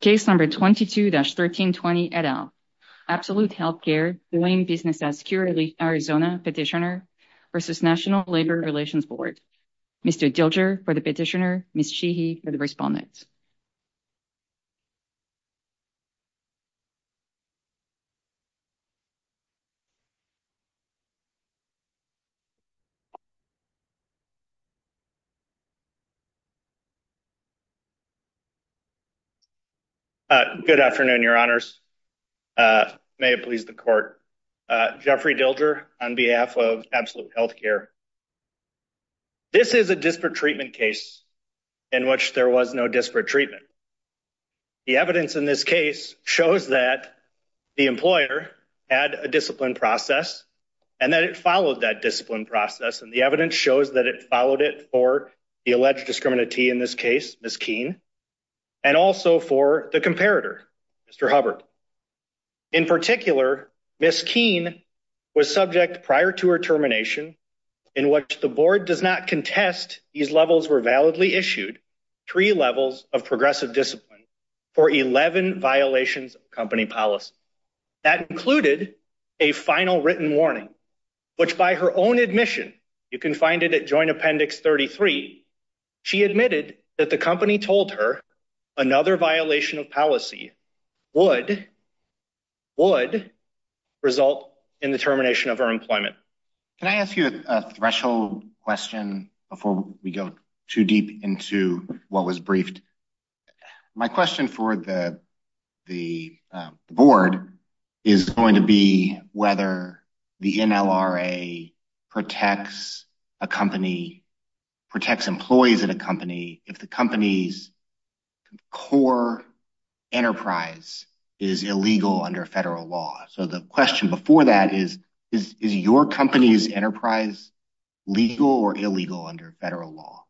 Case number 22-1320, et al. Absolute Healthcare, the Wayne Business Assecurity Arizona petitioner versus National Labor Relations Board. Mr. Dilger for the petitioner, Ms. Cheehy for the respondent. Good afternoon, your honors. May it please the court. Jeffrey Dilger on behalf of Absolute Healthcare. This is a disparate treatment case in which there was no disparate treatment. The evidence in this case shows that the employer had a discipline process and that it followed that discipline process. And the evidence shows that it followed it for the alleged discriminatee in this case, Ms. Keene. And also for the comparator, Mr. Hubbard. In particular, Ms. Keene was subject prior to her termination in which the board does not contest these levels were validly issued, three levels of progressive discipline for 11 violations of company policy. That included a final written warning, which by her own admission, you can find it at joint appendix 33. She admitted that the company told her another violation of policy would result in the termination of her employment. Can I ask you a threshold question before we go too deep into what was briefed? My question for the board is going to be whether the NLRA protects a company, protects employees at a company, if the company's core enterprise is illegal under federal law. So the question before that is, is your company's enterprise legal or illegal under federal law?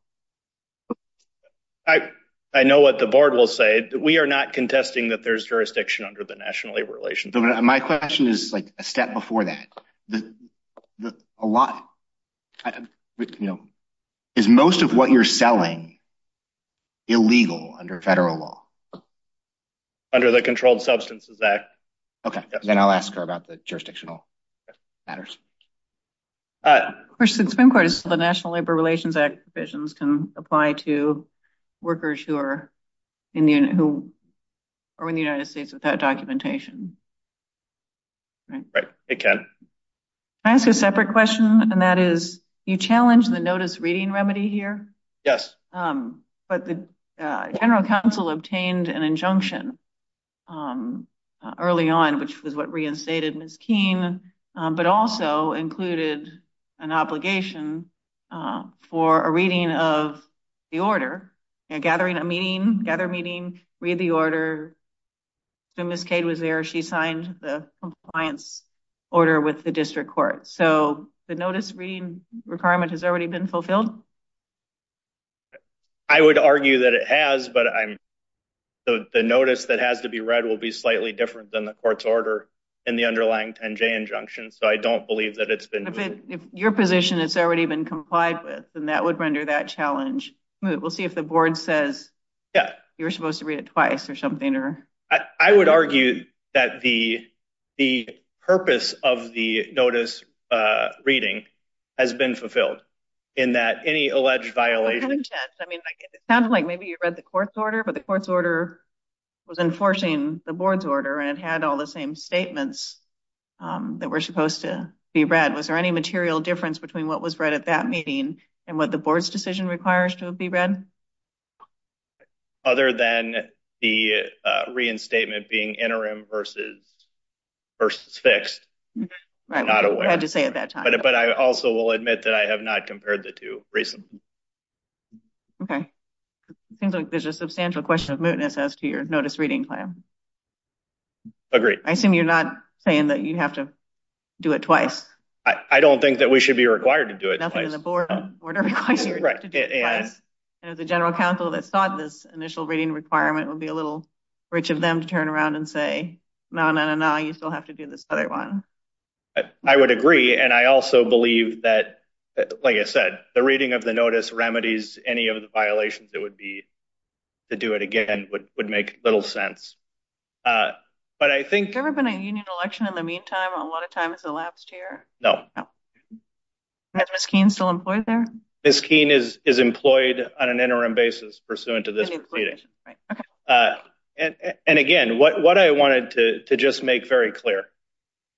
I know what the board will say. We are not contesting that there's jurisdiction under the National Labor Relations Act. My question is like a step before that. Is most of what you're selling illegal under federal law? Under the Controlled Substances Act. Okay, then I'll ask her about the jurisdictional matters. Of course, the Supreme Court has said the National Labor Relations Act provisions can apply to workers who are in the United States without documentation, right? Hey, Ken. Can I ask a separate question? And that is, you challenged the notice reading remedy here? Yes. But the general counsel obtained an injunction early on, which was what reinstated Ms. Keene, but also included an obligation for a reading of the order, gathering a meeting, gather meeting, read the order. So Ms. Cade was there, she signed the compliance order with the district court. So the notice reading requirement has already been fulfilled? I would argue that it has, but the notice that has to be read will be slightly different than the court's order in the underlying 10-J injunction. So I don't believe that it's been. If your position has already been complied with, then that would render that challenge. We'll see if the board says, yeah, you were supposed to read it twice or something or. I would argue that the purpose of the notice reading has been fulfilled in that any alleged violation. I mean, it sounds like maybe you read the court's order, but the court's order was enforcing the board's order and it had all the same statements that were supposed to be read. Was there any material difference between what was read at that meeting and what the board's decision requires to be read? Other than the reinstatement being interim versus fixed. I'm not aware. I had to say at that time. But I also will admit that I have not compared the two recently. Okay. It seems like there's a substantial question of mootness as to your notice reading plan. Agreed. I assume you're not saying that you have to do it twice. I don't think that we should be required to do it twice. Nothing in the board order requires you to do it twice. And if the general counsel that thought this initial reading requirement would be a little rich of them to turn around and say, no, no, no, no, you still have to do this other one. I would agree. And I also believe that, like I said, the reading of the notice remedies any of the violations that would be to do it again would make little sense. But I think- Has there ever been a union election in the meantime? A lot of time has elapsed here. No. Is Ms. Keene still employed there? Ms. Keene is employed on an interim basis pursuant to this proceeding. And again, what I wanted to just make very clear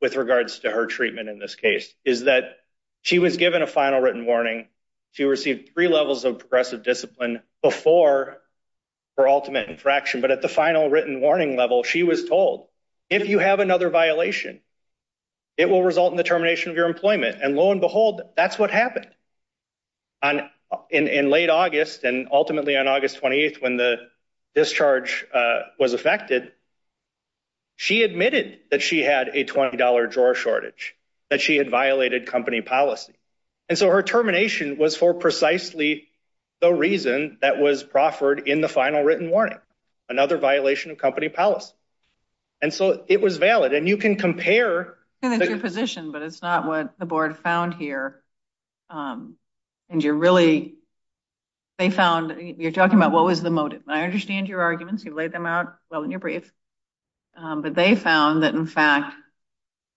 with regards to her treatment in this case is that she was given a final written warning. She received three levels of progressive discipline before her ultimate infraction. But at the final written warning level, she was told if you have another violation, it will result in the termination of your employment. And lo and behold, that's what happened. In late August and ultimately on August 28th, when the discharge was affected, she admitted that she had a $20 drawer shortage, that she had violated company policy. And so her termination was for precisely the reason that was proffered in the final written warning, another violation of company policy. And so it was valid. And you can compare- And it's your position, but it's not what the board found here. And you're really, they found, you're talking about what was the motive. I understand your arguments. You've laid them out well in your brief. But they found that in fact,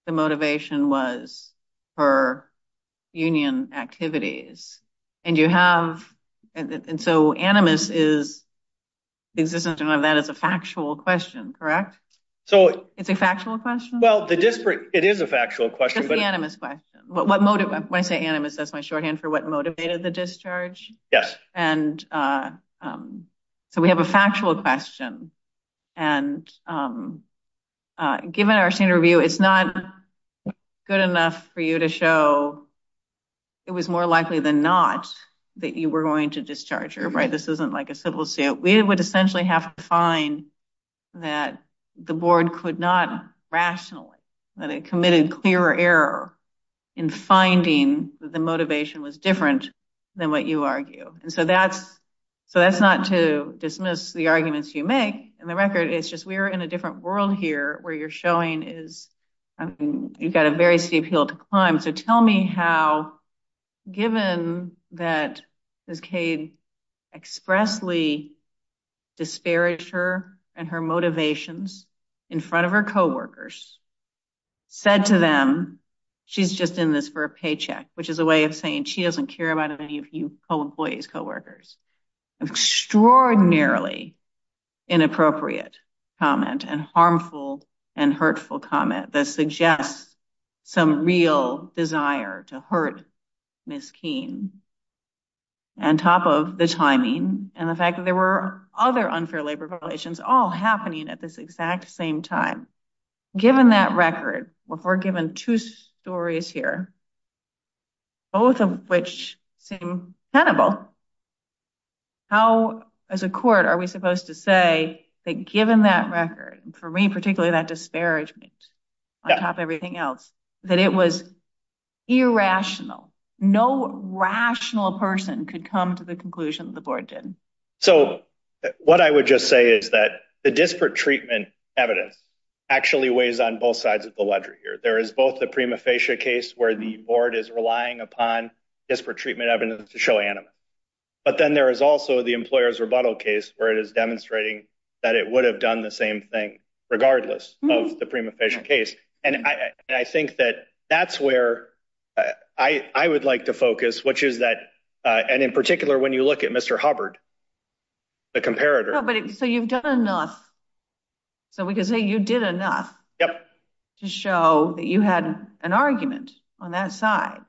the motivation was her union activities. And you have, and so animus is, the existence of that is a factual question, correct? So- It's a factual question? Well, the disparate, it is a factual question, but- Just the animus question. What motive, when I say animus, that's my shorthand for what motivated the discharge? Yes. And so we have a factual question. And given our senior review, it's not good enough for you to show it was more likely than not that you were going to discharge her, right? This isn't like a civil suit. We would essentially have to find that the board could not rationally, that it committed clear error in finding that the motivation was different than what you argue. And so that's not to dismiss the arguments you make. And the record is just, we're in a different world here where you're showing is, you've got a very steep hill to climb. So tell me how, given that Ms. Cade expressly disparaged her and her motivations in front of her coworkers, said to them, she's just in this for a paycheck, which is a way of saying she doesn't care about any of you co-employees, coworkers. Extraordinarily inappropriate comment and harmful and hurtful comment that suggests some real desire to hurt Ms. Keene on top of the timing and the fact that there were other unfair labor violations all happening at this exact same time. Given that record, we're given two stories here, both of which seem tenable. How, as a court, are we supposed to say that given that record, for me particularly that disparagement on top of everything else, that it was irrational. No rational person could come to the conclusion the board did. So what I would just say is that the disparate treatment evidence actually weighs on both sides of the ledger here. There is both the prima facie case where the board is relying upon disparate treatment evidence to show animus. But then there is also the employer's rebuttal case where it is demonstrating that it would have done the same thing regardless of the prima facie case. And I think that that's where I would like to focus, which is that, and in particular when you look at Mr. Hubbard, the comparator. So you've done enough. So we could say you did enough to show that you had an argument on that side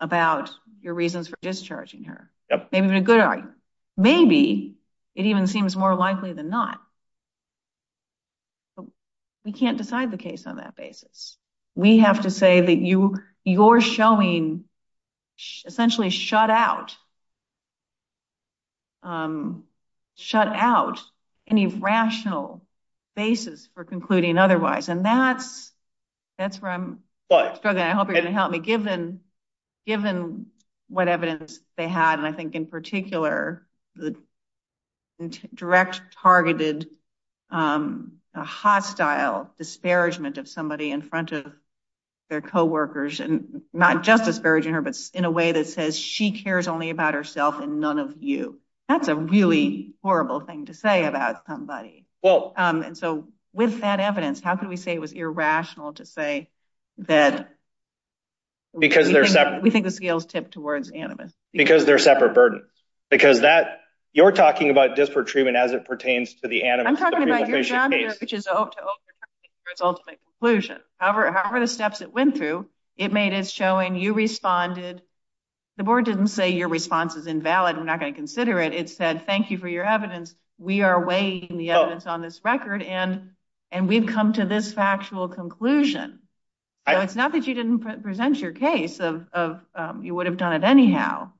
about your reasons for discharging her. Maybe a good argument. Maybe it even seems more likely than not. We can't decide the case on that basis. We have to say that you're showing essentially shut out, shut out any rational basis for concluding otherwise. And that's where I'm struggling. I hope you're gonna help me. Given what evidence they had, and I think in particular, direct targeted, a hostile disparagement of somebody in front of their coworkers, not just disparaging her, but in a way that says she cares only about herself and none of you. That's a really horrible thing to say about somebody. And so with that evidence, how can we say it was irrational to say that we think the scales tipped towards animus? Because they're separate burdens. Because that, you're talking about disparate treatment as it pertains to the animus. I'm talking about your job here, which is to overcomplicate for its ultimate conclusion. However the steps it went through, it made us showing you responded. The board didn't say your response is invalid. We're not gonna consider it. It said, thank you for your evidence. We are weighing the evidence on this record and we've come to this factual conclusion. It's not that you didn't present your case of you would have done it anyhow.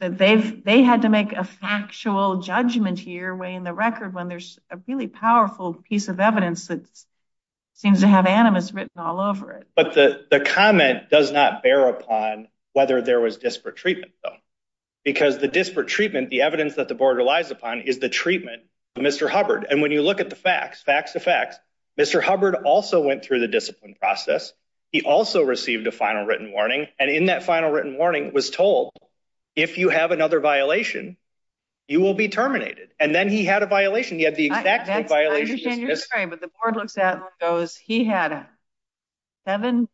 They had to make a factual judgment here weighing the record when there's a really powerful piece of evidence that seems to have animus written all over it. The comment does not bear upon whether there was disparate treatment though. Because the disparate treatment, the evidence that the board relies upon is the treatment of Mr. Hubbard. And when you look at the facts, facts to facts, Mr. Hubbard also went through the discipline process. He also received a final written warning. And in that final written warning was told, if you have another violation, you will be terminated. And then he had a violation. He had the exact violation. I understand you're sorry, but the board looks at and goes, he had seven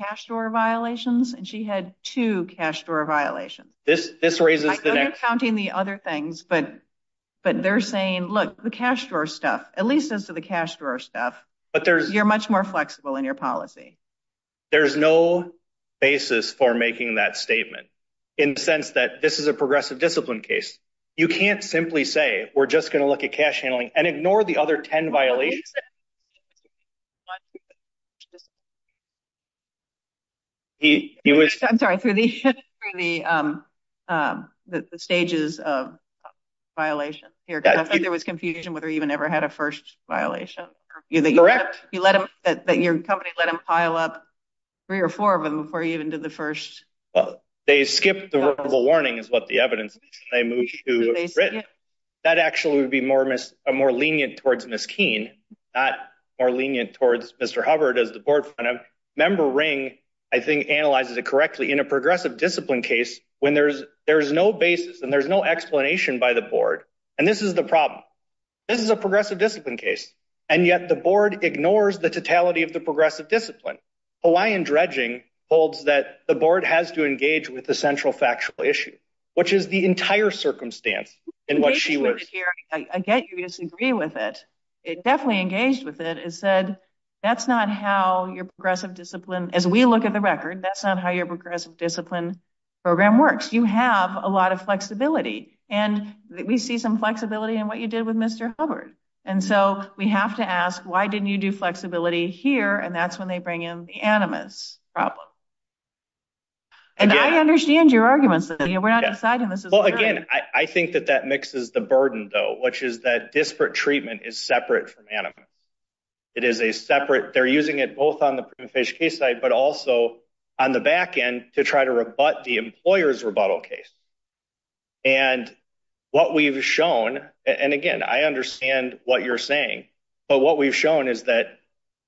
cash drawer violations and she had two cash drawer violations. This raises the next- I'm not counting the other things, but they're saying, look, the cash drawer stuff, at least as to the cash drawer stuff, you're much more flexible in your policy. There's no basis for making that statement in the sense that this is a progressive discipline case. You can't simply say, we're just gonna look at cash handling and ignore the other 10 violations. He was- I'm sorry, through the stages of violation here, because I think there was confusion whether he even ever had a first violation. Correct. That your company let him pile up three or four of them before he even did the first- They skipped the verbal warning is what the evidence, they moved to written. That actually would be more lenient towards Ms. Keene, not more lenient towards Mr. Hubbard as the board. Member Ring, I think analyzes it correctly in a progressive discipline case when there's no basis and there's no explanation by the board. And this is the problem. This is a progressive discipline case. And yet the board ignores the totality of the progressive discipline. Hawaiian dredging holds that the board has to engage with the central factual issue, which is the entire circumstance in what she was- I get you disagree with it. It definitely engaged with it. It said, that's not how your progressive discipline, as we look at the record, that's not how your progressive discipline program works. You have a lot of flexibility and we see some flexibility in what you did with Mr. Hubbard. And so we have to ask, why didn't you do flexibility here? And that's when they bring in the animus problem. And I understand your arguments that we're not deciding this is- Well, again, I think that that mixes the burden though, which is that disparate treatment is separate from animus. It is a separate, they're using it both on the prima facie case side, but also on the backend to try to rebut the employer's rebuttal case. And what we've shown, and again, I understand what you're saying, but what we've shown is that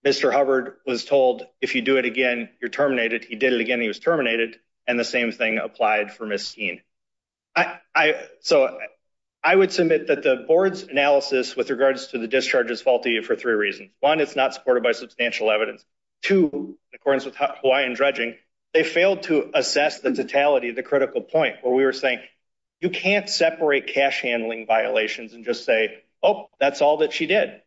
Mr. Hubbard was told, if you do it again, you're terminated. He did it again, he was terminated. And the same thing applied for Ms. Keene. So I would submit that the board's analysis with regards to the discharge is faulty for three reasons. One, it's not supported by substantial evidence. Two, in accordance with Hawaiian dredging, they failed to assess the totality of the critical point where we were saying, you can't separate cash handling violations and just say, oh, that's all that she did.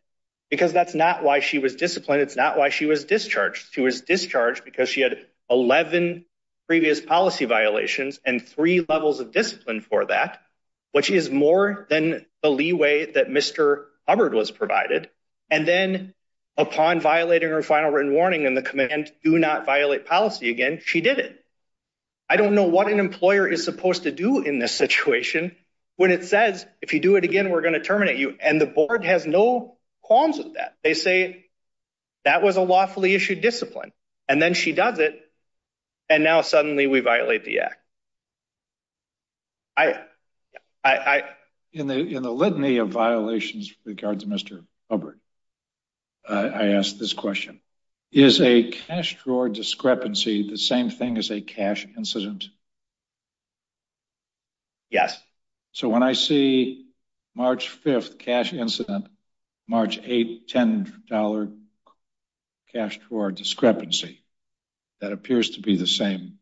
Because that's not why she was disciplined. It's not why she was discharged. She was discharged because she had 11 previous policy violations and three levels of discipline for that, which is more than the leeway that Mr. Hubbard was provided. And then upon violating her final written warning in the commitment to do not violate policy again, she did it. I don't know what an employer is supposed to do in this situation when it says, if you do it again, we're going to terminate you. And the board has no qualms with that. They say that was a lawfully issued discipline and then she does it. And now suddenly we violate the act. In the litany of violations with regards to Mr. Hubbard, I asked this question, is a cash drawer discrepancy the same thing as a cash incident? Yes. So when I see March 5th cash incident, March 8th, $10 cash drawer discrepancy, that appears to be the same.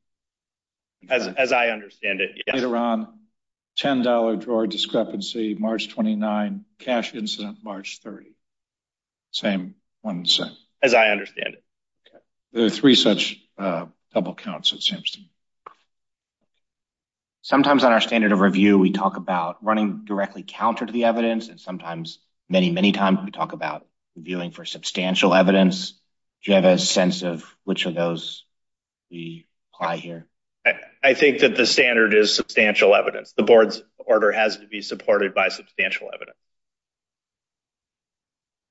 As I understand it, yes. Later on, $10 drawer discrepancy, March 29th cash incident, March 30th. Same one set. As I understand it. There are three such double counts, it seems to me. Sometimes on our standard of review, we talk about running directly counter to the evidence and sometimes many, many times we talk about viewing for substantial evidence. Do you have a sense of which of those we apply here? I think that the standard is substantial evidence. The board's order has to be supported by substantial evidence.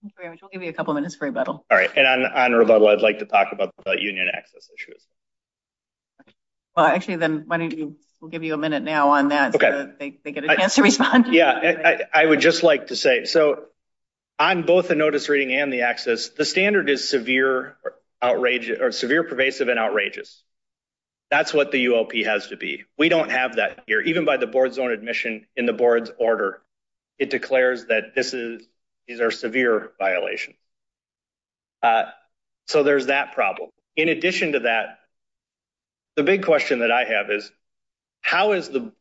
Thank you very much. We'll give you a couple of minutes for rebuttal. All right. And on rebuttal, I'd like to talk about union access issues. Well, actually then why don't you, we'll give you a minute now on that so that they get a chance to respond. Yeah, I would just like to say, so on both the notice reading and the access, the standard is severe pervasive and outrageous. That's what the UOP has to be. We don't have that here. Even by the board's own admission in the board's order, it declares that these are severe violations. So there's that problem. In addition to that, the big question that I have is, how is the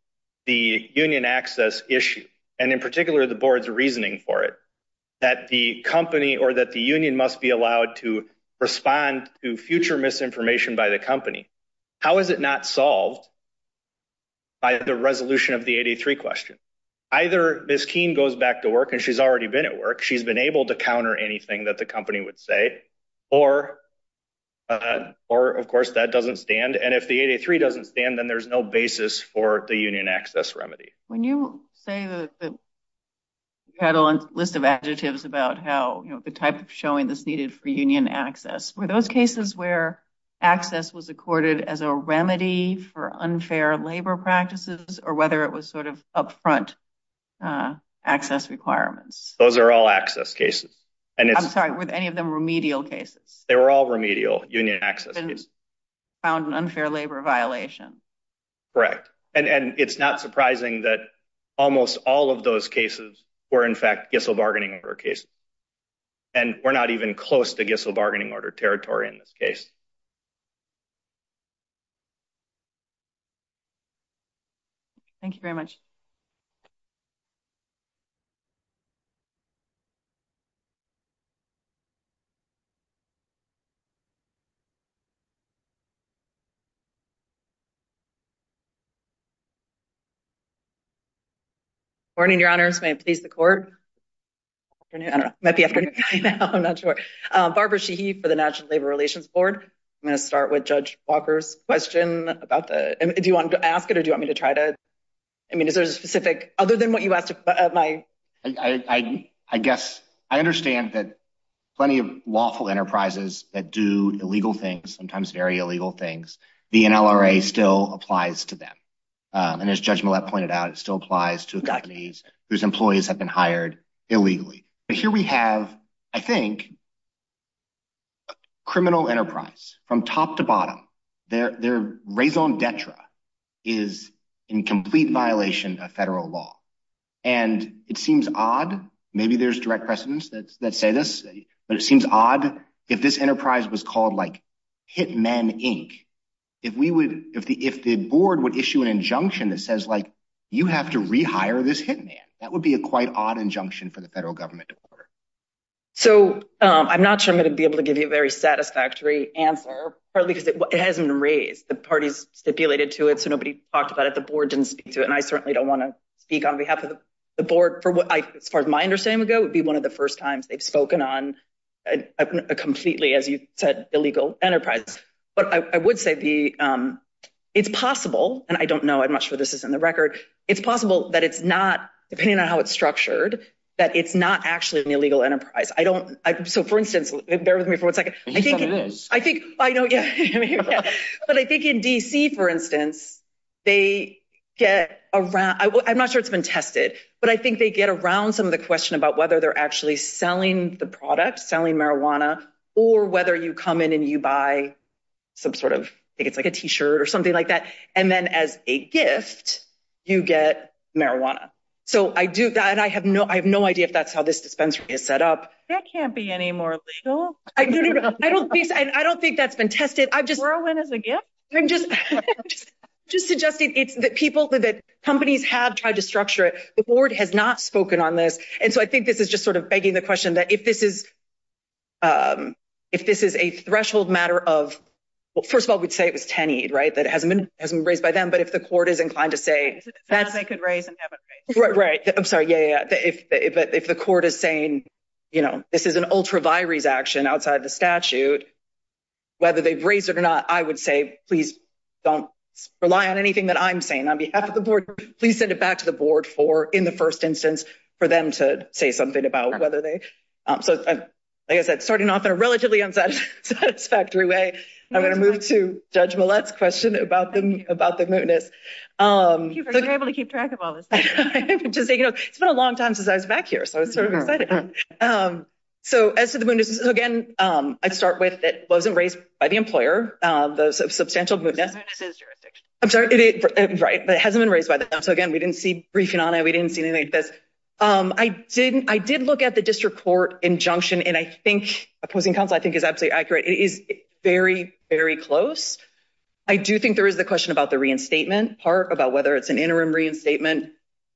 union access issue? And in particular, the board's reasoning for it, that the company or that the union must be allowed to respond to future misinformation by the company. How is it not solved by the resolution of the 83 question? Either Ms. Keene goes back to work and she's already been at work. She's been able to counter anything that the company would say, or of course that doesn't stand. And if the 83 doesn't stand, then there's no basis for the union access remedy. When you say that you had a list of adjectives about how the type of showing this needed for union access, were those cases where access was accorded as a remedy for unfair labor practices, or whether it was sort of upfront access requirements? Those are all access cases. I'm sorry, were any of them remedial cases? They were all remedial union access cases. Found an unfair labor violation. Correct. And it's not surprising that almost all of those cases were in fact Gissel bargaining order cases. And we're not even close to Gissel bargaining order territory in this case. Thank you very much. Good morning, your honors. May it please the court. I don't know, it might be afternoon time now, I'm not sure. Barbara Sheehy for the National Labor Relations Board. I'm going to start with Judge Walker's question about the, do you want me to ask it or do you want me to try to, I mean, is there a specific, other than what you asked of my- I guess, I understand that plenty of lawful enterprises that do illegal things, sometimes very, very often, do illegal things. Very illegal things. The NLRA still applies to them. And as Judge Millett pointed out, it still applies to companies whose employees have been hired illegally. But here we have, I think, criminal enterprise from top to bottom. Their raison d'etre is in complete violation of federal law. And it seems odd, maybe there's direct precedents that say this, but it seems odd if this enterprise was called like, Hitman Inc. If we would, if the board would issue an injunction that says like, you have to rehire this hitman. That would be a quite odd injunction for the federal government to order. So, I'm not sure I'm going to be able to give you a very satisfactory answer, partly because it hasn't been raised. The party's stipulated to it, so nobody talked about it. The board didn't speak to it. And I certainly don't want to speak on behalf of the board for what, as far as my understanding would go, it would be one of the first times they've spoken on a completely, as you said, illegal enterprise. But I would say the, it's possible, and I don't know, I'm not sure this is in the record, it's possible that it's not, depending on how it's structured, that it's not actually an illegal enterprise. I don't, so for instance, bear with me for one second. I think, I know, yeah, but I think in DC, for instance, they get around, I'm not sure it's been tested, but I think they get around some of the question about whether they're actually selling the product, selling marijuana, or whether you come in and you buy some sort of, I think it's like a T-shirt or something like that, and then as a gift, you get marijuana. So I do, and I have no idea if that's how this dispensary is set up. That can't be any more legal. I don't think, and I don't think that's been tested. I've just- Heroin as a gift? I'm just suggesting it's that people, that companies have tried to structure it. The board has not spoken on this. And so I think this is just sort of begging the question that if this is a threshold matter of, well, first of all, we'd say it was TenEed, right? That it hasn't been raised by them, but if the court is inclined to say- That they could raise and haven't raised. Right, right. I'm sorry, yeah, yeah, yeah. If the court is saying, you know, this is an ultra virus action outside the statute, whether they've raised it or not, I would say, please don't rely on anything that I'm saying on behalf of the board. Please send it back to the board for, in the first instance, for them to say something about whether they, so, like I said, starting off in a relatively unsatisfactory way, I'm gonna move to Judge Millett's question about the mootness. Thank you for being able to keep track of all this. Just saying, you know, it's been a long time since I was back here, so I was sort of excited. So as to the mootness, again, I'd start with, it wasn't raised by the employer, the substantial mootness. The mootness is jurisdiction. I'm sorry, right, but it hasn't been raised by them. So again, we didn't see briefing on it. We didn't see anything like this. I did look at the district court injunction, and I think opposing counsel, I think is absolutely accurate. It is very, very close. I do think there is the question about the reinstatement part about whether it's an interim reinstatement.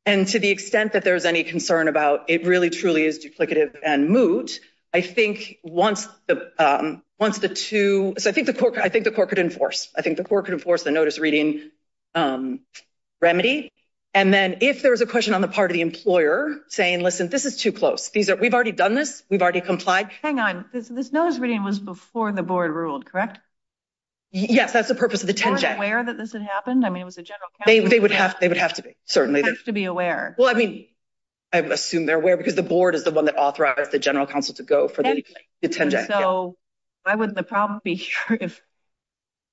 And to the extent that there's any concern about it really truly is duplicative and moot, I think once the two, so I think the court could enforce. I think the court could enforce the notice reading remedy. And then if there was a question on the part of the employer saying, listen, this is too close. We've already done this. We've already complied. Hang on, this notice reading was before the board ruled, correct? Yes, that's the purpose of the 10J. Were they aware that this had happened? I mean, it was a general counsel meeting. They would have to be, certainly. They have to be aware. Well, I mean, I assume they're aware because the board is the one that authorized the general counsel to go for the 10J. So why would the problem be here if,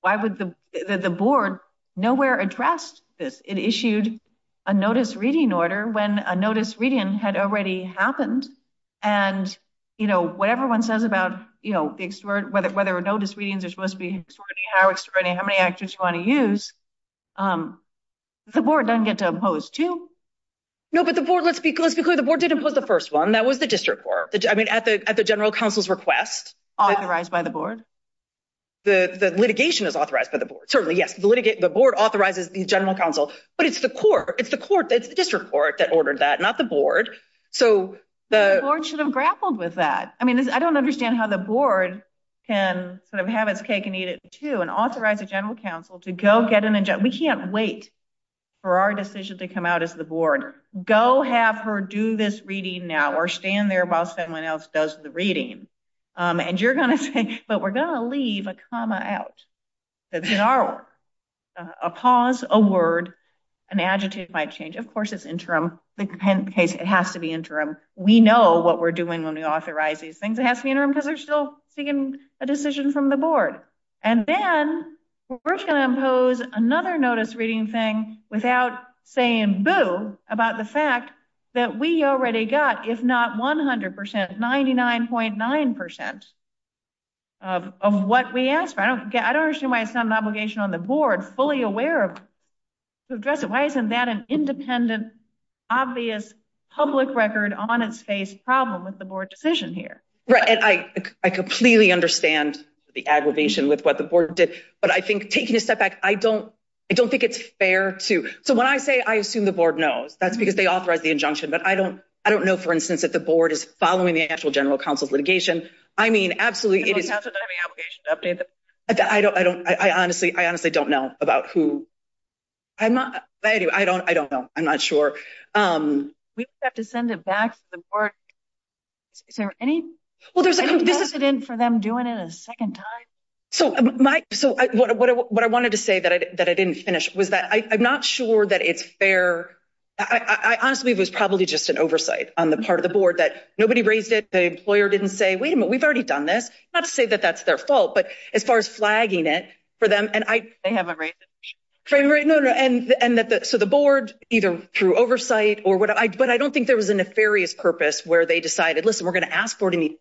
why would the board nowhere addressed this? It issued a notice reading order when a notice reading had already happened. And, you know, whatever one says about, you know, the extort, whether notice readings are supposed to be extorting, how extorting, how many actors you want to use, the board doesn't get to impose two. No, but the board, let's be clear. The board did impose the first one. That was the district court. I mean, at the general counsel's request. Authorized by the board? The litigation is authorized by the board. Certainly, yes. The board authorizes the general counsel, but it's the court. It's the court, it's the district court that ordered that, not the board. So the- The board should have grappled with that. I mean, I don't understand how the board can sort of have its cake and eat it too and authorize a general counsel to go get an injunction. We can't wait for our decision to come out as the board. Go have her do this reading now or stand there while someone else does the reading. And you're gonna say, but we're gonna leave a comma out. That's in our work. A pause, a word, an adjective might change. Of course, it's interim. The case, it has to be interim. We know what we're doing when we authorize these things. It has to be interim because they're still seeking a decision from the board. And then we're gonna impose another notice reading thing without saying boo about the fact that we already got, if not 100%, 99.9% of what we asked for. I don't understand why it's not an obligation on the board fully aware of who addressed it. Why isn't that an independent, obvious public record on its face problem with the board decision here? Right, and I completely understand the aggravation with what the board did, but I think taking a step back, I don't think it's fair to, so when I say I assume the board knows, that's because they authorized the injunction, but I don't know, for instance, if the board is following the actual general counsel's litigation. I mean, absolutely, it is- The general counsel doesn't have any obligation to update the- I honestly don't know about who, I don't know, I'm not sure. We would have to send it back to the board. Is there any precedent for them doing it a second time? So what I wanted to say that I didn't finish was that I'm not sure that it's fair. I honestly believe it was probably just an oversight on the part of the board that nobody raised it, the employer didn't say, wait a minute, we've already done this, not to say that that's their fault, but as far as flagging it for them, and I- They haven't raised it. Right, no, no, and so the board, either through oversight or whatever, but I don't think there was a nefarious purpose where they decided, listen, we're going to ask for it,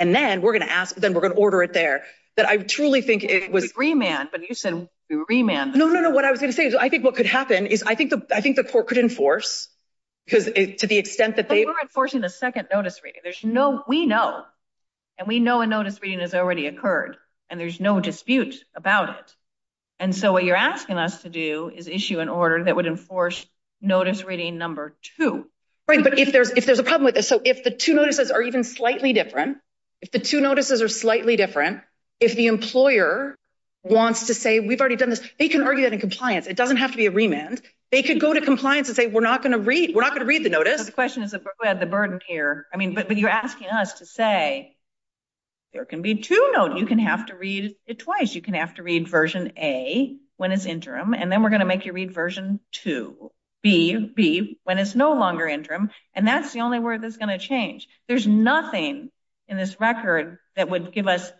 and then we're going to ask, then we're going to order it there, that I truly think it was- Remand, but you said remand. No, no, no, what I was going to say is I think what could happen is I think the court could enforce, because to the extent that they- But we're enforcing the second notice reading, we know, and we know a notice reading has already occurred, and there's no dispute about it, and so what you're asking us to do is issue an order that would enforce notice reading number two. Right, but if there's a problem with this, so if the two notices are even slightly different, if the two notices are slightly different, if the employer wants to say, we've already done this, they can argue that in compliance, it doesn't have to be a remand, they could go to compliance and say, we're not going to read the notice. The question is, who had the burden here? But you're asking us to say, there can be two notices, you can have to read it twice, you can have to read version A when it's interim, and then we're going to make you read version two, B, when it's no longer interim, and that's the only word that's going to change. There's nothing in this record that would give us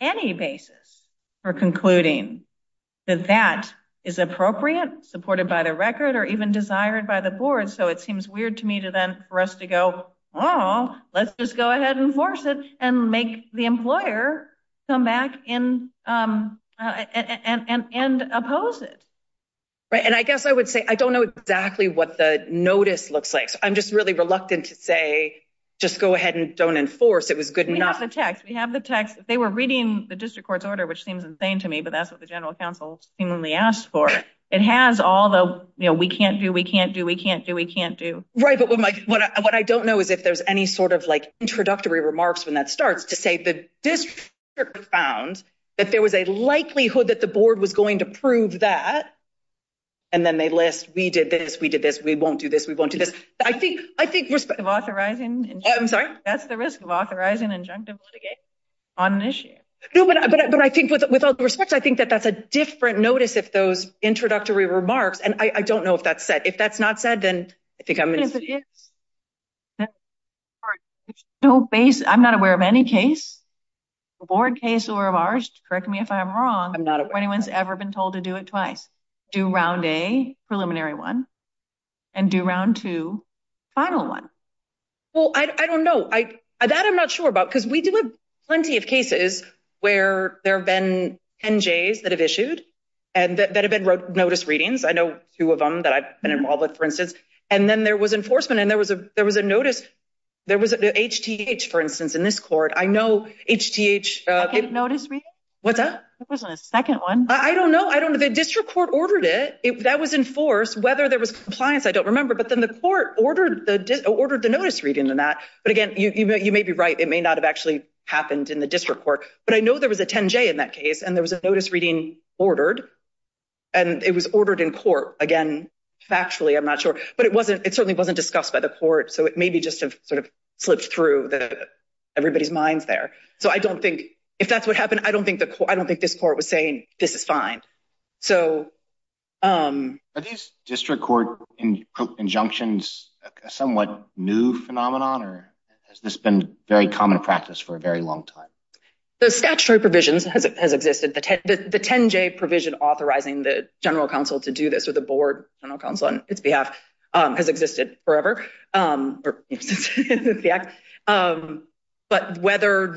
any basis for concluding that that is appropriate, supported by the record, or even desired by the board, so it seems weird to me for us to go, oh, let's just go ahead and force it and make the employer come back and oppose it. Right, and I guess I would say, I don't know exactly what the notice looks like, so I'm just really reluctant to say, just go ahead and don't enforce, it was good enough. We have the text, we have the text. If they were reading the district court's order, which seems insane to me, but that's what the general counsel seemingly asked for, it has all the, we can't do, we can't do, we can't do, we can't do. Right, but what I don't know is if there's any sort of introductory remarks when that starts to say the district found that there was a likelihood that the board was going to prove that, and then they list, we did this, we did this, we won't do this, we won't do this. I think, I think- The risk of authorizing- I'm sorry? That's the risk of authorizing an injunctive litigation on an issue. No, but I think with all due respect, I think that that's a different notice if those introductory remarks, and I don't know if that's said. Then, I think I'm- But if it is, I'm not aware of any case, a board case or of ours, correct me if I'm wrong- I'm not aware. Or anyone's ever been told to do it twice, do round A, preliminary one, and do round two, final one. Well, I don't know. That I'm not sure about, because we do have plenty of cases where there have been NJs that have issued, and that have been notice readings. I know two of them that I've been involved with, for instance, and then there was enforcement, and there was a notice. There was the HTH, for instance, in this court. I know HTH- Second notice reading? What's that? It wasn't a second one. I don't know. I don't know. The district court ordered it. That was enforced. Whether there was compliance, I don't remember, but then the court ordered the notice reading on that. But again, you may be right. It may not have actually happened in the district court, but I know there was a 10J in that case, and there was a notice reading ordered, and it was ordered in court. Again, factually, I'm not sure, but it certainly wasn't discussed by the court, so it may be just sort of slipped through everybody's minds there. So I don't think, if that's what happened, I don't think this court was saying, this is fine. Are these district court injunctions a somewhat new phenomenon, or has this been very common practice for a very long time? The statutory provisions has existed. The 10J provision authorizing the general counsel to do this, or the board general counsel on its behalf, has existed forever. But whether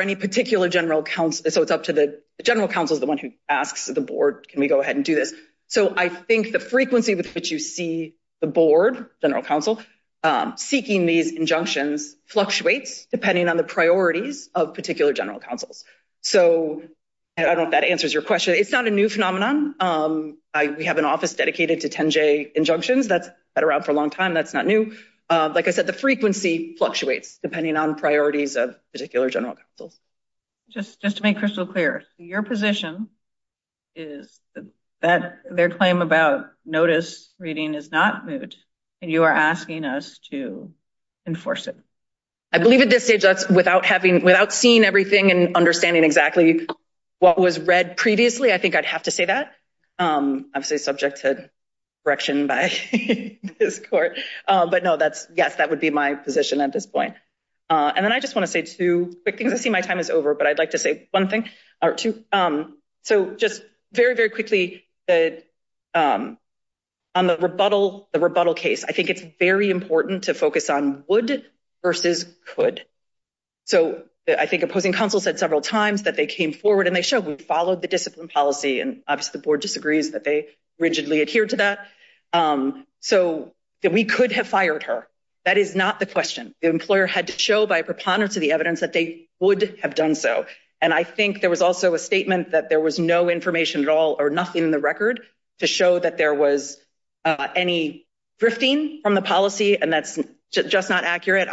any particular general counsel, so it's up to the, the general counsel is the one who asks the board, can we go ahead and do this? So I think the frequency with which you see the board general counsel seeking these injunctions fluctuates depending on the priorities of particular general counsels. So I don't know if that answers your question. It's not a new phenomenon. We have an office dedicated to 10J injunctions. That's been around for a long time. That's not new. Like I said, the frequency fluctuates depending on priorities of particular general counsels. Just to make crystal clear, your position is that their claim about notice reading is not moot, and you are asking us to enforce it. I believe at this stage, that's without having, seen everything and understanding exactly what was read previously, I think I'd have to say that. Obviously subject to correction by this court, but no, that's, yes, that would be my position at this point. And then I just want to say two quick things. I see my time is over, but I'd like to say one thing or two. So just very, very quickly, on the rebuttal case, I think it's very important to focus on would versus could. So I think opposing counsel said several times that they came forward and they showed we followed the discipline policy. And obviously the board disagrees that they rigidly adhere to that. So that we could have fired her. That is not the question. The employer had to show by preponderance of the evidence that they would have done so. And I think there was also a statement that there was no information at all or nothing in the record to show that there was any drifting from the policy. And that's just not accurate.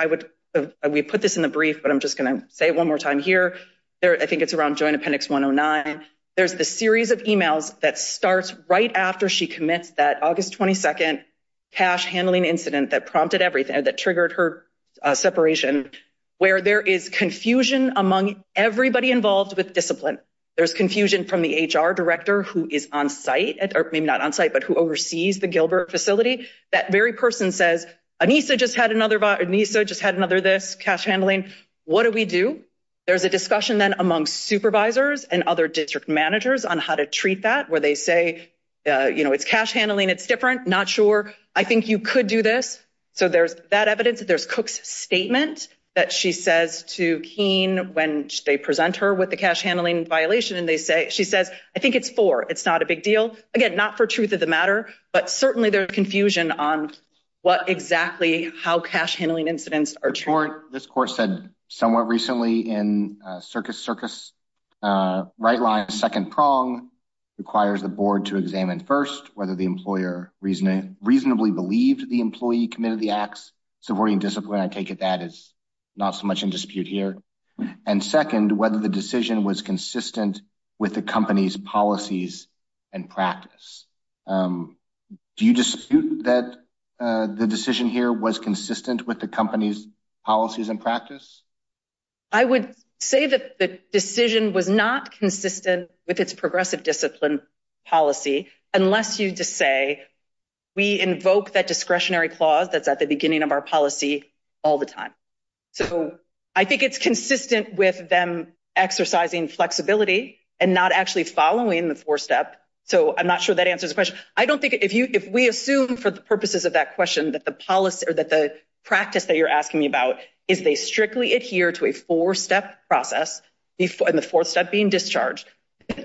We put this in the brief, but I'm just gonna say it one more time here. I think it's around joint appendix 109. There's the series of emails that starts right after she commits that August 22nd cash handling incident that prompted everything, that triggered her separation, where there is confusion among everybody involved with discipline. There's confusion from the HR director who is on site, or maybe not on site, but who oversees the Gilbert facility. That very person says, Anissa just had another this cash handling. What do we do? There's a discussion then among supervisors and other district managers on how to treat that, where they say, it's cash handling, it's different, not sure. I think you could do this. So there's that evidence. There's Cook's statement that she says to Keene when they present her with the cash handling violation. And she says, I think it's for, it's not a big deal. Again, not for truth of the matter, but certainly there's confusion on what exactly how cash handling incidents are true. This court said somewhat recently in Circus Circus, right line second prong requires the board to examine first, whether the employer reasonably believed the employee committed the acts. So supporting discipline, I take it that is not so much in dispute here. And second, whether the decision was consistent with the company's policies and practice. Do you dispute that the decision here was consistent with the company's policies and practice? I would say that the decision was not consistent with its progressive discipline policy, unless you just say, we invoke that discretionary clause that's at the beginning of our policy all the time. So I think it's consistent with them exercising flexibility and not actually following the four step. So I'm not sure that answers the question. I don't think if you, if we assume for the purposes of that question, that the policy or that the practice that you're asking me about, is they strictly adhere to a four step process before the fourth step being discharged?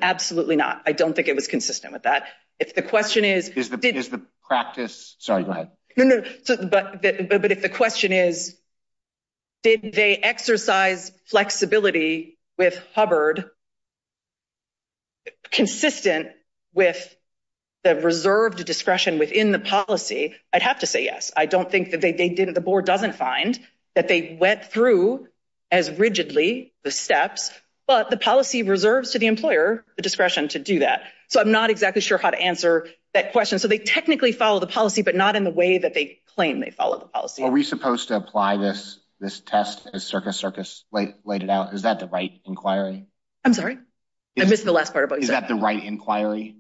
Absolutely not. I don't think it was consistent with that. If the question is- Is the practice, sorry, go ahead. No, no, but if the question is, did they exercise flexibility with Hubbard consistent with the reserved discretion within the policy? I'd have to say yes. I don't think that they didn't, the board doesn't find that they went through as rigidly the steps, but the policy reserves to the employer, the discretion to do that. So I'm not exactly sure how to answer that question. So they technically follow the policy, but not in the way that they claim they follow the policy. Are we supposed to apply this test as Circus Circus laid it out? Is that the right inquiry? I'm sorry, I missed the last part about you. Is that the right inquiry?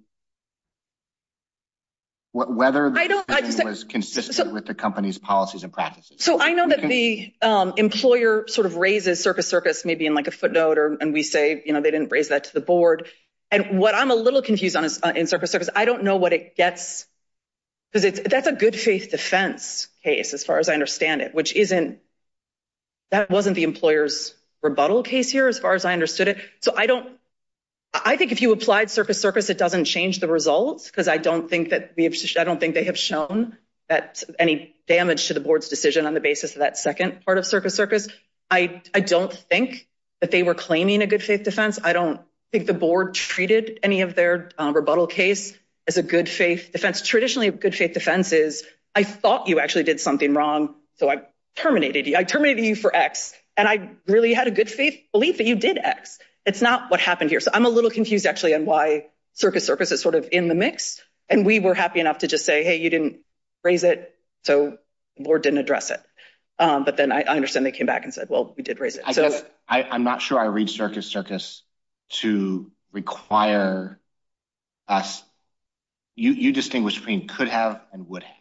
Whether the decision was consistent with the company's policies and practices. So I know that the employer sort of raises Circus Circus maybe in like a footnote or, and we say, you know, they didn't raise that to the board. And what I'm a little confused on is in Circus Circus, I don't know what it gets, because that's a good faith defense case as far as I understand it, which isn't, that wasn't the employer's rebuttal case here as far as I understood it. So I don't, I think if you applied Circus Circus, it doesn't change the results. Cause I don't think that we have, I don't think they have shown that any damage to the board's decision on the basis of that second part of Circus Circus. I don't think that they were claiming a good faith defense. I don't think the board treated any of their rebuttal case as a good faith defense. Traditionally a good faith defense is, I thought you actually did something wrong. So I terminated you, I terminated you for X, and I really had a good faith belief that you did X. It's not what happened here. So I'm a little confused actually on why Circus Circus is sort of in the mix. And we were happy enough to just say, hey, you didn't raise it. So the board didn't address it. But then I understand they came back and said, well, we did raise it. I'm not sure I read Circus Circus to require us. You distinguished between could have and would have.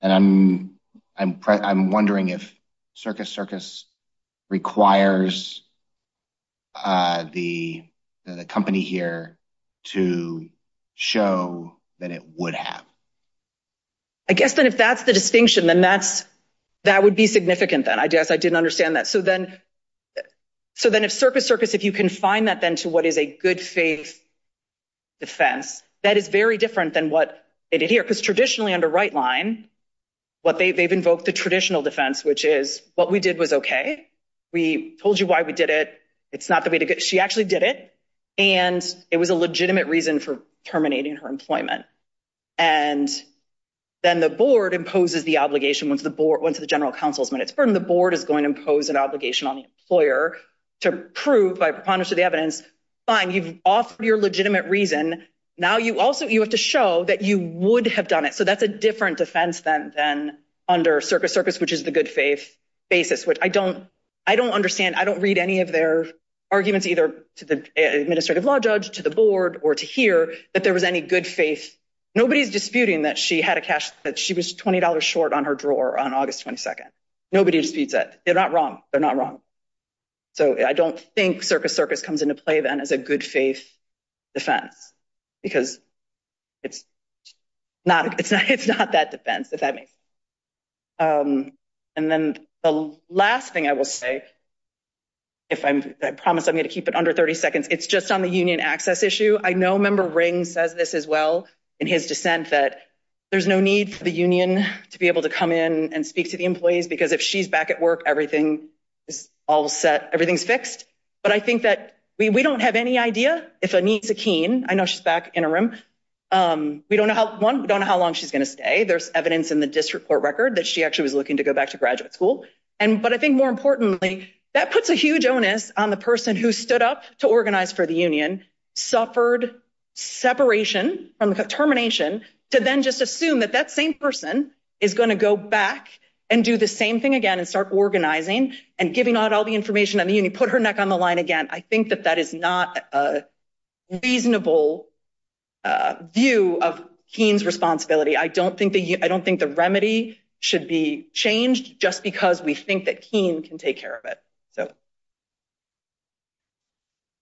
And I'm wondering if Circus Circus requires the company here to show that it would have. I guess then if that's the distinction, then that would be significant then. I guess I didn't understand that. So then if Circus Circus, if you confine that then to what is a good faith defense, that is very different than what it did here. Because traditionally under right line, what they've invoked the traditional defense, which is what we did was okay. We told you why we did it. It's not the way to get, she actually did it. And it was a legitimate reason for terminating her employment. And then the board imposes the obligation once the board, once the general counsel's minutes. When the board is going to impose an obligation on the employer to prove by preponderance of the evidence, fine, you've offered your legitimate reason. Now you also, you have to show that you would have done it. So that's a different defense than under Circus Circus, which is the good faith basis, which I don't understand. I don't read any of their arguments either to the administrative law judge, to the board or to hear that there was any good faith. Nobody's disputing that she had a cash, that she was $20 short on her drawer on August 22nd. Nobody disputes that. They're not wrong. They're not wrong. So I don't think Circus Circus comes into play then as a good faith defense, because it's not that defense, if that makes sense. And then the last thing I will say, if I promise I'm going to keep it under 30 seconds, it's just on the union access issue. I know member Ring says this as well in his dissent that there's no need for the union to be able to come in and speak to the employees, because if she's back at work, everything is all set, everything's fixed. But I think that we don't have any idea if Aneesa Keen, I know she's back interim, we don't know how long she's going to stay. There's evidence in the district court record that she actually was looking to go back to graduate school. And, but I think more importantly, that puts a huge onus on the person who stood up to organize for the union, suffered separation from the termination to then just assume that that same person is going to go back and do the same thing again and start organizing and giving out all the information and the union, put her neck on the line again. I think that that is not a reasonable view of Keen's responsibility. I don't think the remedy should be changed just because we think that Keen can take care of it, so.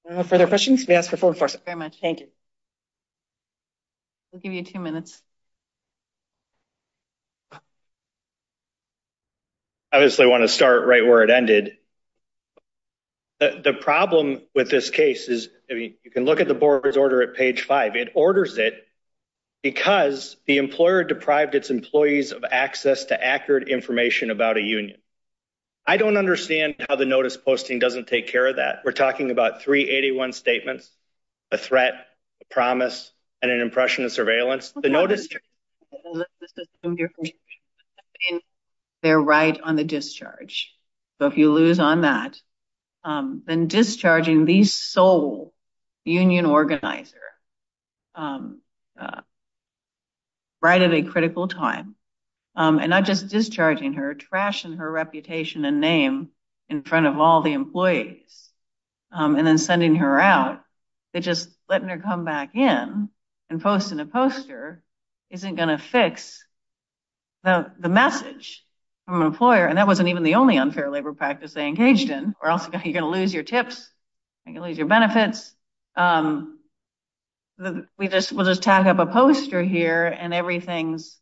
No further questions? May I ask for full enforcement? Very much. Thank you. We'll give you two minutes. I obviously want to start right where it ended. The problem with this case is, I mean, you can look at the board's order at page five. It orders it because the employer deprived its employees of access to accurate information about a union. I don't understand how the notice posting doesn't take care of that. We're talking about 381 statements, a threat, a promise, and an impression of surveillance. The notice- They're right on the discharge. So if you lose on that, then discharging the sole union organizer right at a critical time, and not just discharging her, trashing her reputation and name in front of all the employees, and then sending her out, that just letting her come back in and posting a poster isn't gonna fix the message from an employer, and that wasn't even the only unfair labor practice they engaged in, or else you're gonna lose your tips, you're gonna lose your benefits. We'll just tag up a poster here and everything's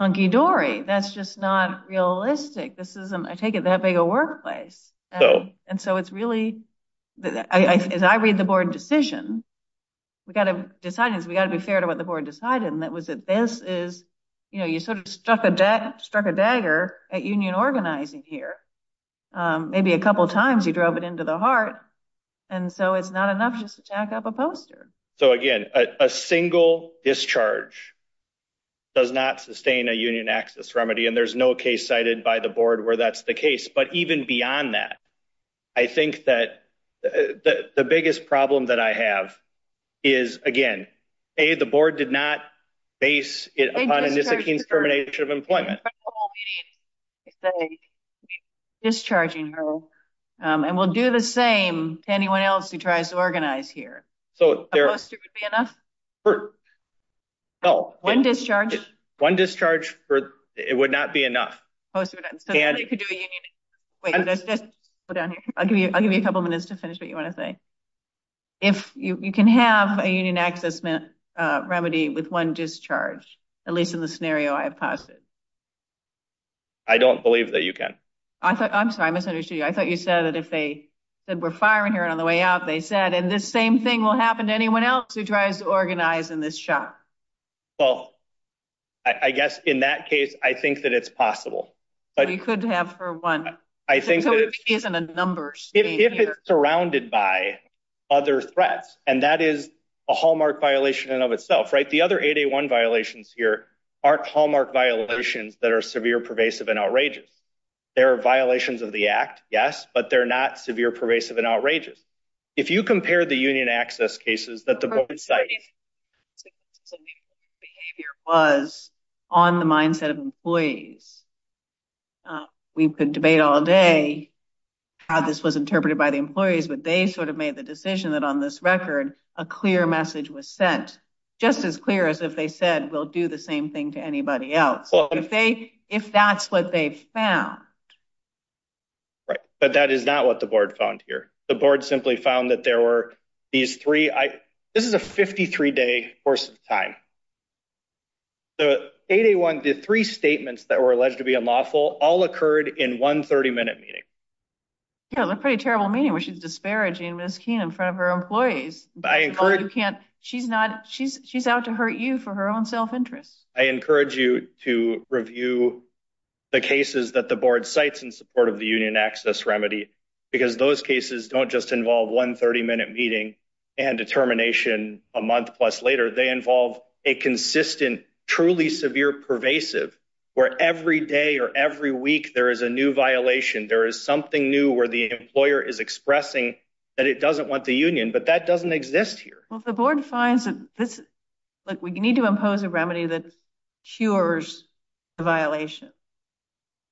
hunky-dory. That's just not realistic. This isn't, I take it, that big a workplace. And so it's really, as I read the board decision, we gotta decide this, we gotta be fair to what the board decided, and that was that this is, you sort of struck a dagger at union organizing here. Maybe a couple of times you drove it into the heart, and so it's not enough just to tag up a poster. So again, a single discharge does not sustain a union access remedy, and there's no case cited by the board where that's the case, but even beyond that, I think that the biggest problem that I have is, again, A, the board did not base it upon a misdemeanor termination of employment. We're discharging her, and we'll do the same to anyone else who tries to organize here. So a poster would be enough? One discharge? One discharge, it would not be enough. A poster would not, so you could do a union, wait, let's just go down here. I'll give you a couple of minutes to finish what you wanna say. If you can have a union access remedy with one discharge, at least in the scenario I have posited. I don't believe that you can. I'm sorry, I misunderstood you. I thought you said that if they said, we're firing her on the way out, they said, and this same thing will happen to anyone else who tries to organize in this shop. Well, I guess in that case, I think that it's possible. But you could have her one. I think that it's- So it isn't a numbers game here. If it's surrounded by other threats, and that is a hallmark violation of itself, right? The other 8A1 violations here are hallmark violations that are severe, pervasive, and outrageous. They're violations of the act, yes, but they're not severe, pervasive, and outrageous. If you compare the union access cases that the board cited- So maybe the behavior was on the mindset of employees. We could debate all day how this was interpreted by the employees, but they sort of made the decision that on this record, a clear message was sent. Just as clear as if they said, we'll do the same thing to anybody else. If that's what they've found. Right, but that is not what the board found here. The board simply found that there were these three, this is a 53-day course of time. The 8A1, the three statements that were alleged to be unlawful, all occurred in one 30-minute meeting. Yeah, that's a pretty terrible meeting, where she's disparaging Ms. Keene in front of her employees. She's out to hurt you for her own self-interest. I encourage you to review the cases that the board cites in support of the union access remedy, because those cases don't just involve one 30-minute meeting and determination a month plus later. They involve a consistent, truly severe, pervasive, where every day or every week there is a new violation. There is something new where the employer is expressing that it doesn't want the union, but that doesn't exist here. Well, if the board finds that this, look, we need to impose a remedy that cures the violation.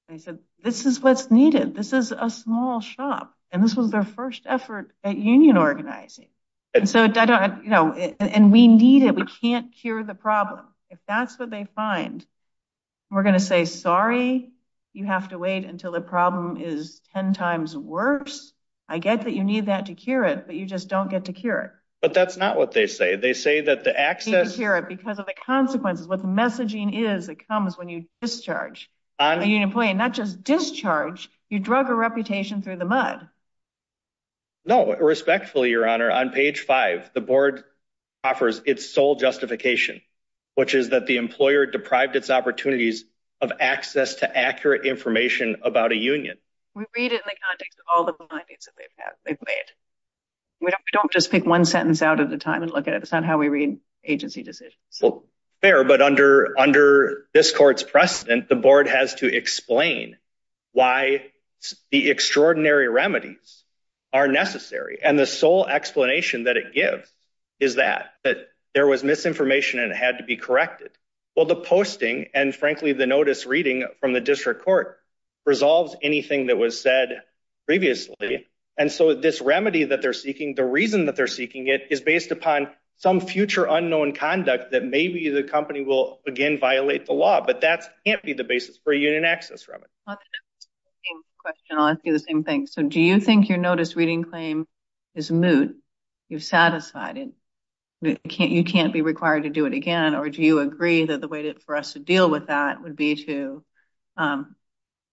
They said, this is what's needed. This is a small shop. And this was their first effort at union organizing. And so I don't, you know, and we need it. We can't cure the problem. If that's what they find, we're gonna say, sorry, you have to wait until the problem is 10 times worse. I get that you need that to cure it, but you just don't get to cure it. But that's not what they say. They say that the access- You can't cure it because of the consequences, what the messaging is that comes when you discharge on a union employee, and not just discharge, you drug a reputation through the mud. No, respectfully, Your Honor, on page five, the board offers its sole justification, which is that the employer deprived its opportunities of access to accurate information about a union. We read it in the context of all the findings that they've made. We don't just pick one sentence out at a time and look at it. It's not how we read agency decisions. Well, fair, but under this court's precedent, the board has to explain why the extraordinary remedies are necessary. And the sole explanation that it gives is that, that there was misinformation and it had to be corrected. Well, the posting, and frankly, the notice reading from the district court resolves anything that was said previously. And so this remedy that they're seeking, the reason that they're seeking it, is based upon some future unknown conduct that maybe the company will, again, violate the law, but that can't be the basis for a union access remedy. Question, I'll ask you the same thing. So do you think your notice reading claim is moot? You've satisfied it, you can't be required to do it again, or do you agree that the way for us to deal with that would be to,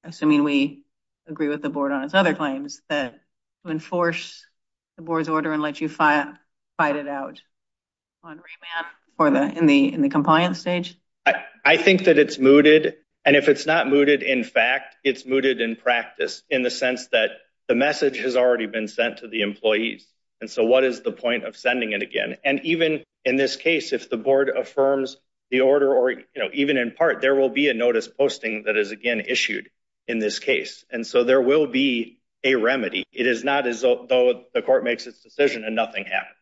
assuming we agree with the board on its other claims, that to enforce the board's order and let you fight it out on remand or in the compliance stage? I think that it's mooted, and if it's not mooted in fact, it's mooted in practice in the sense that the message has already been sent to the employees. And so what is the point of sending it again? And even in this case, if the board affirms the order, even in part, there will be a notice posting that is again issued in this case. And so there will be a remedy. It is not as though the court makes its decision and nothing happens.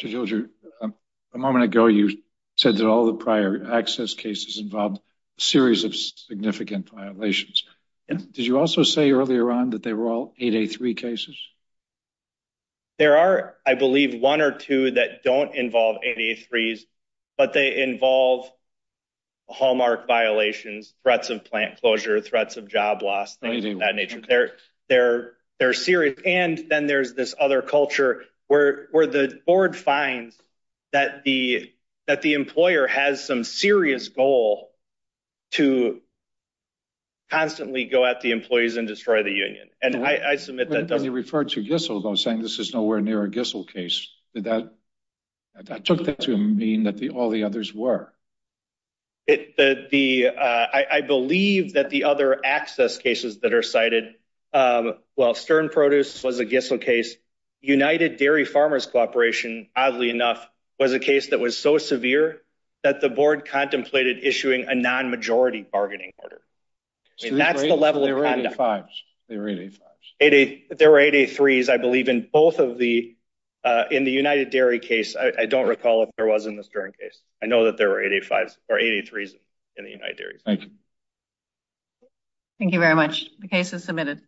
Mr. Gildger, a moment ago, you said that all the prior access cases involved a series of significant violations. Did you also say earlier on that they were all 8A3 cases? There are, I believe, one or two that don't involve 8A3s, but they involve hallmark violations, threats of plant closure, threats of job loss, things of that nature. They're serious. And then there's this other culture where the board finds that the employer has some serious goal to constantly go at the employees and destroy the union. And I submit that- When you referred to Gissel, though saying this is nowhere near a Gissel case, did that, I took that to mean that all the others were. I believe that the other access cases that are cited, while Stern Produce was a Gissel case, United Dairy Farmers Corporation, oddly enough, was a case that was so severe that the board contemplated issuing a non-majority bargaining order. And that's the level of conduct- They were 8A5s, they were 8A5s. There were 8A3s, I believe, in both of the, in the United Dairy case. I don't recall if there was in the Stern case. I know that there were 8A5s or 8A3s in the United Dairy. Thank you. Thank you very much. The case is submitted.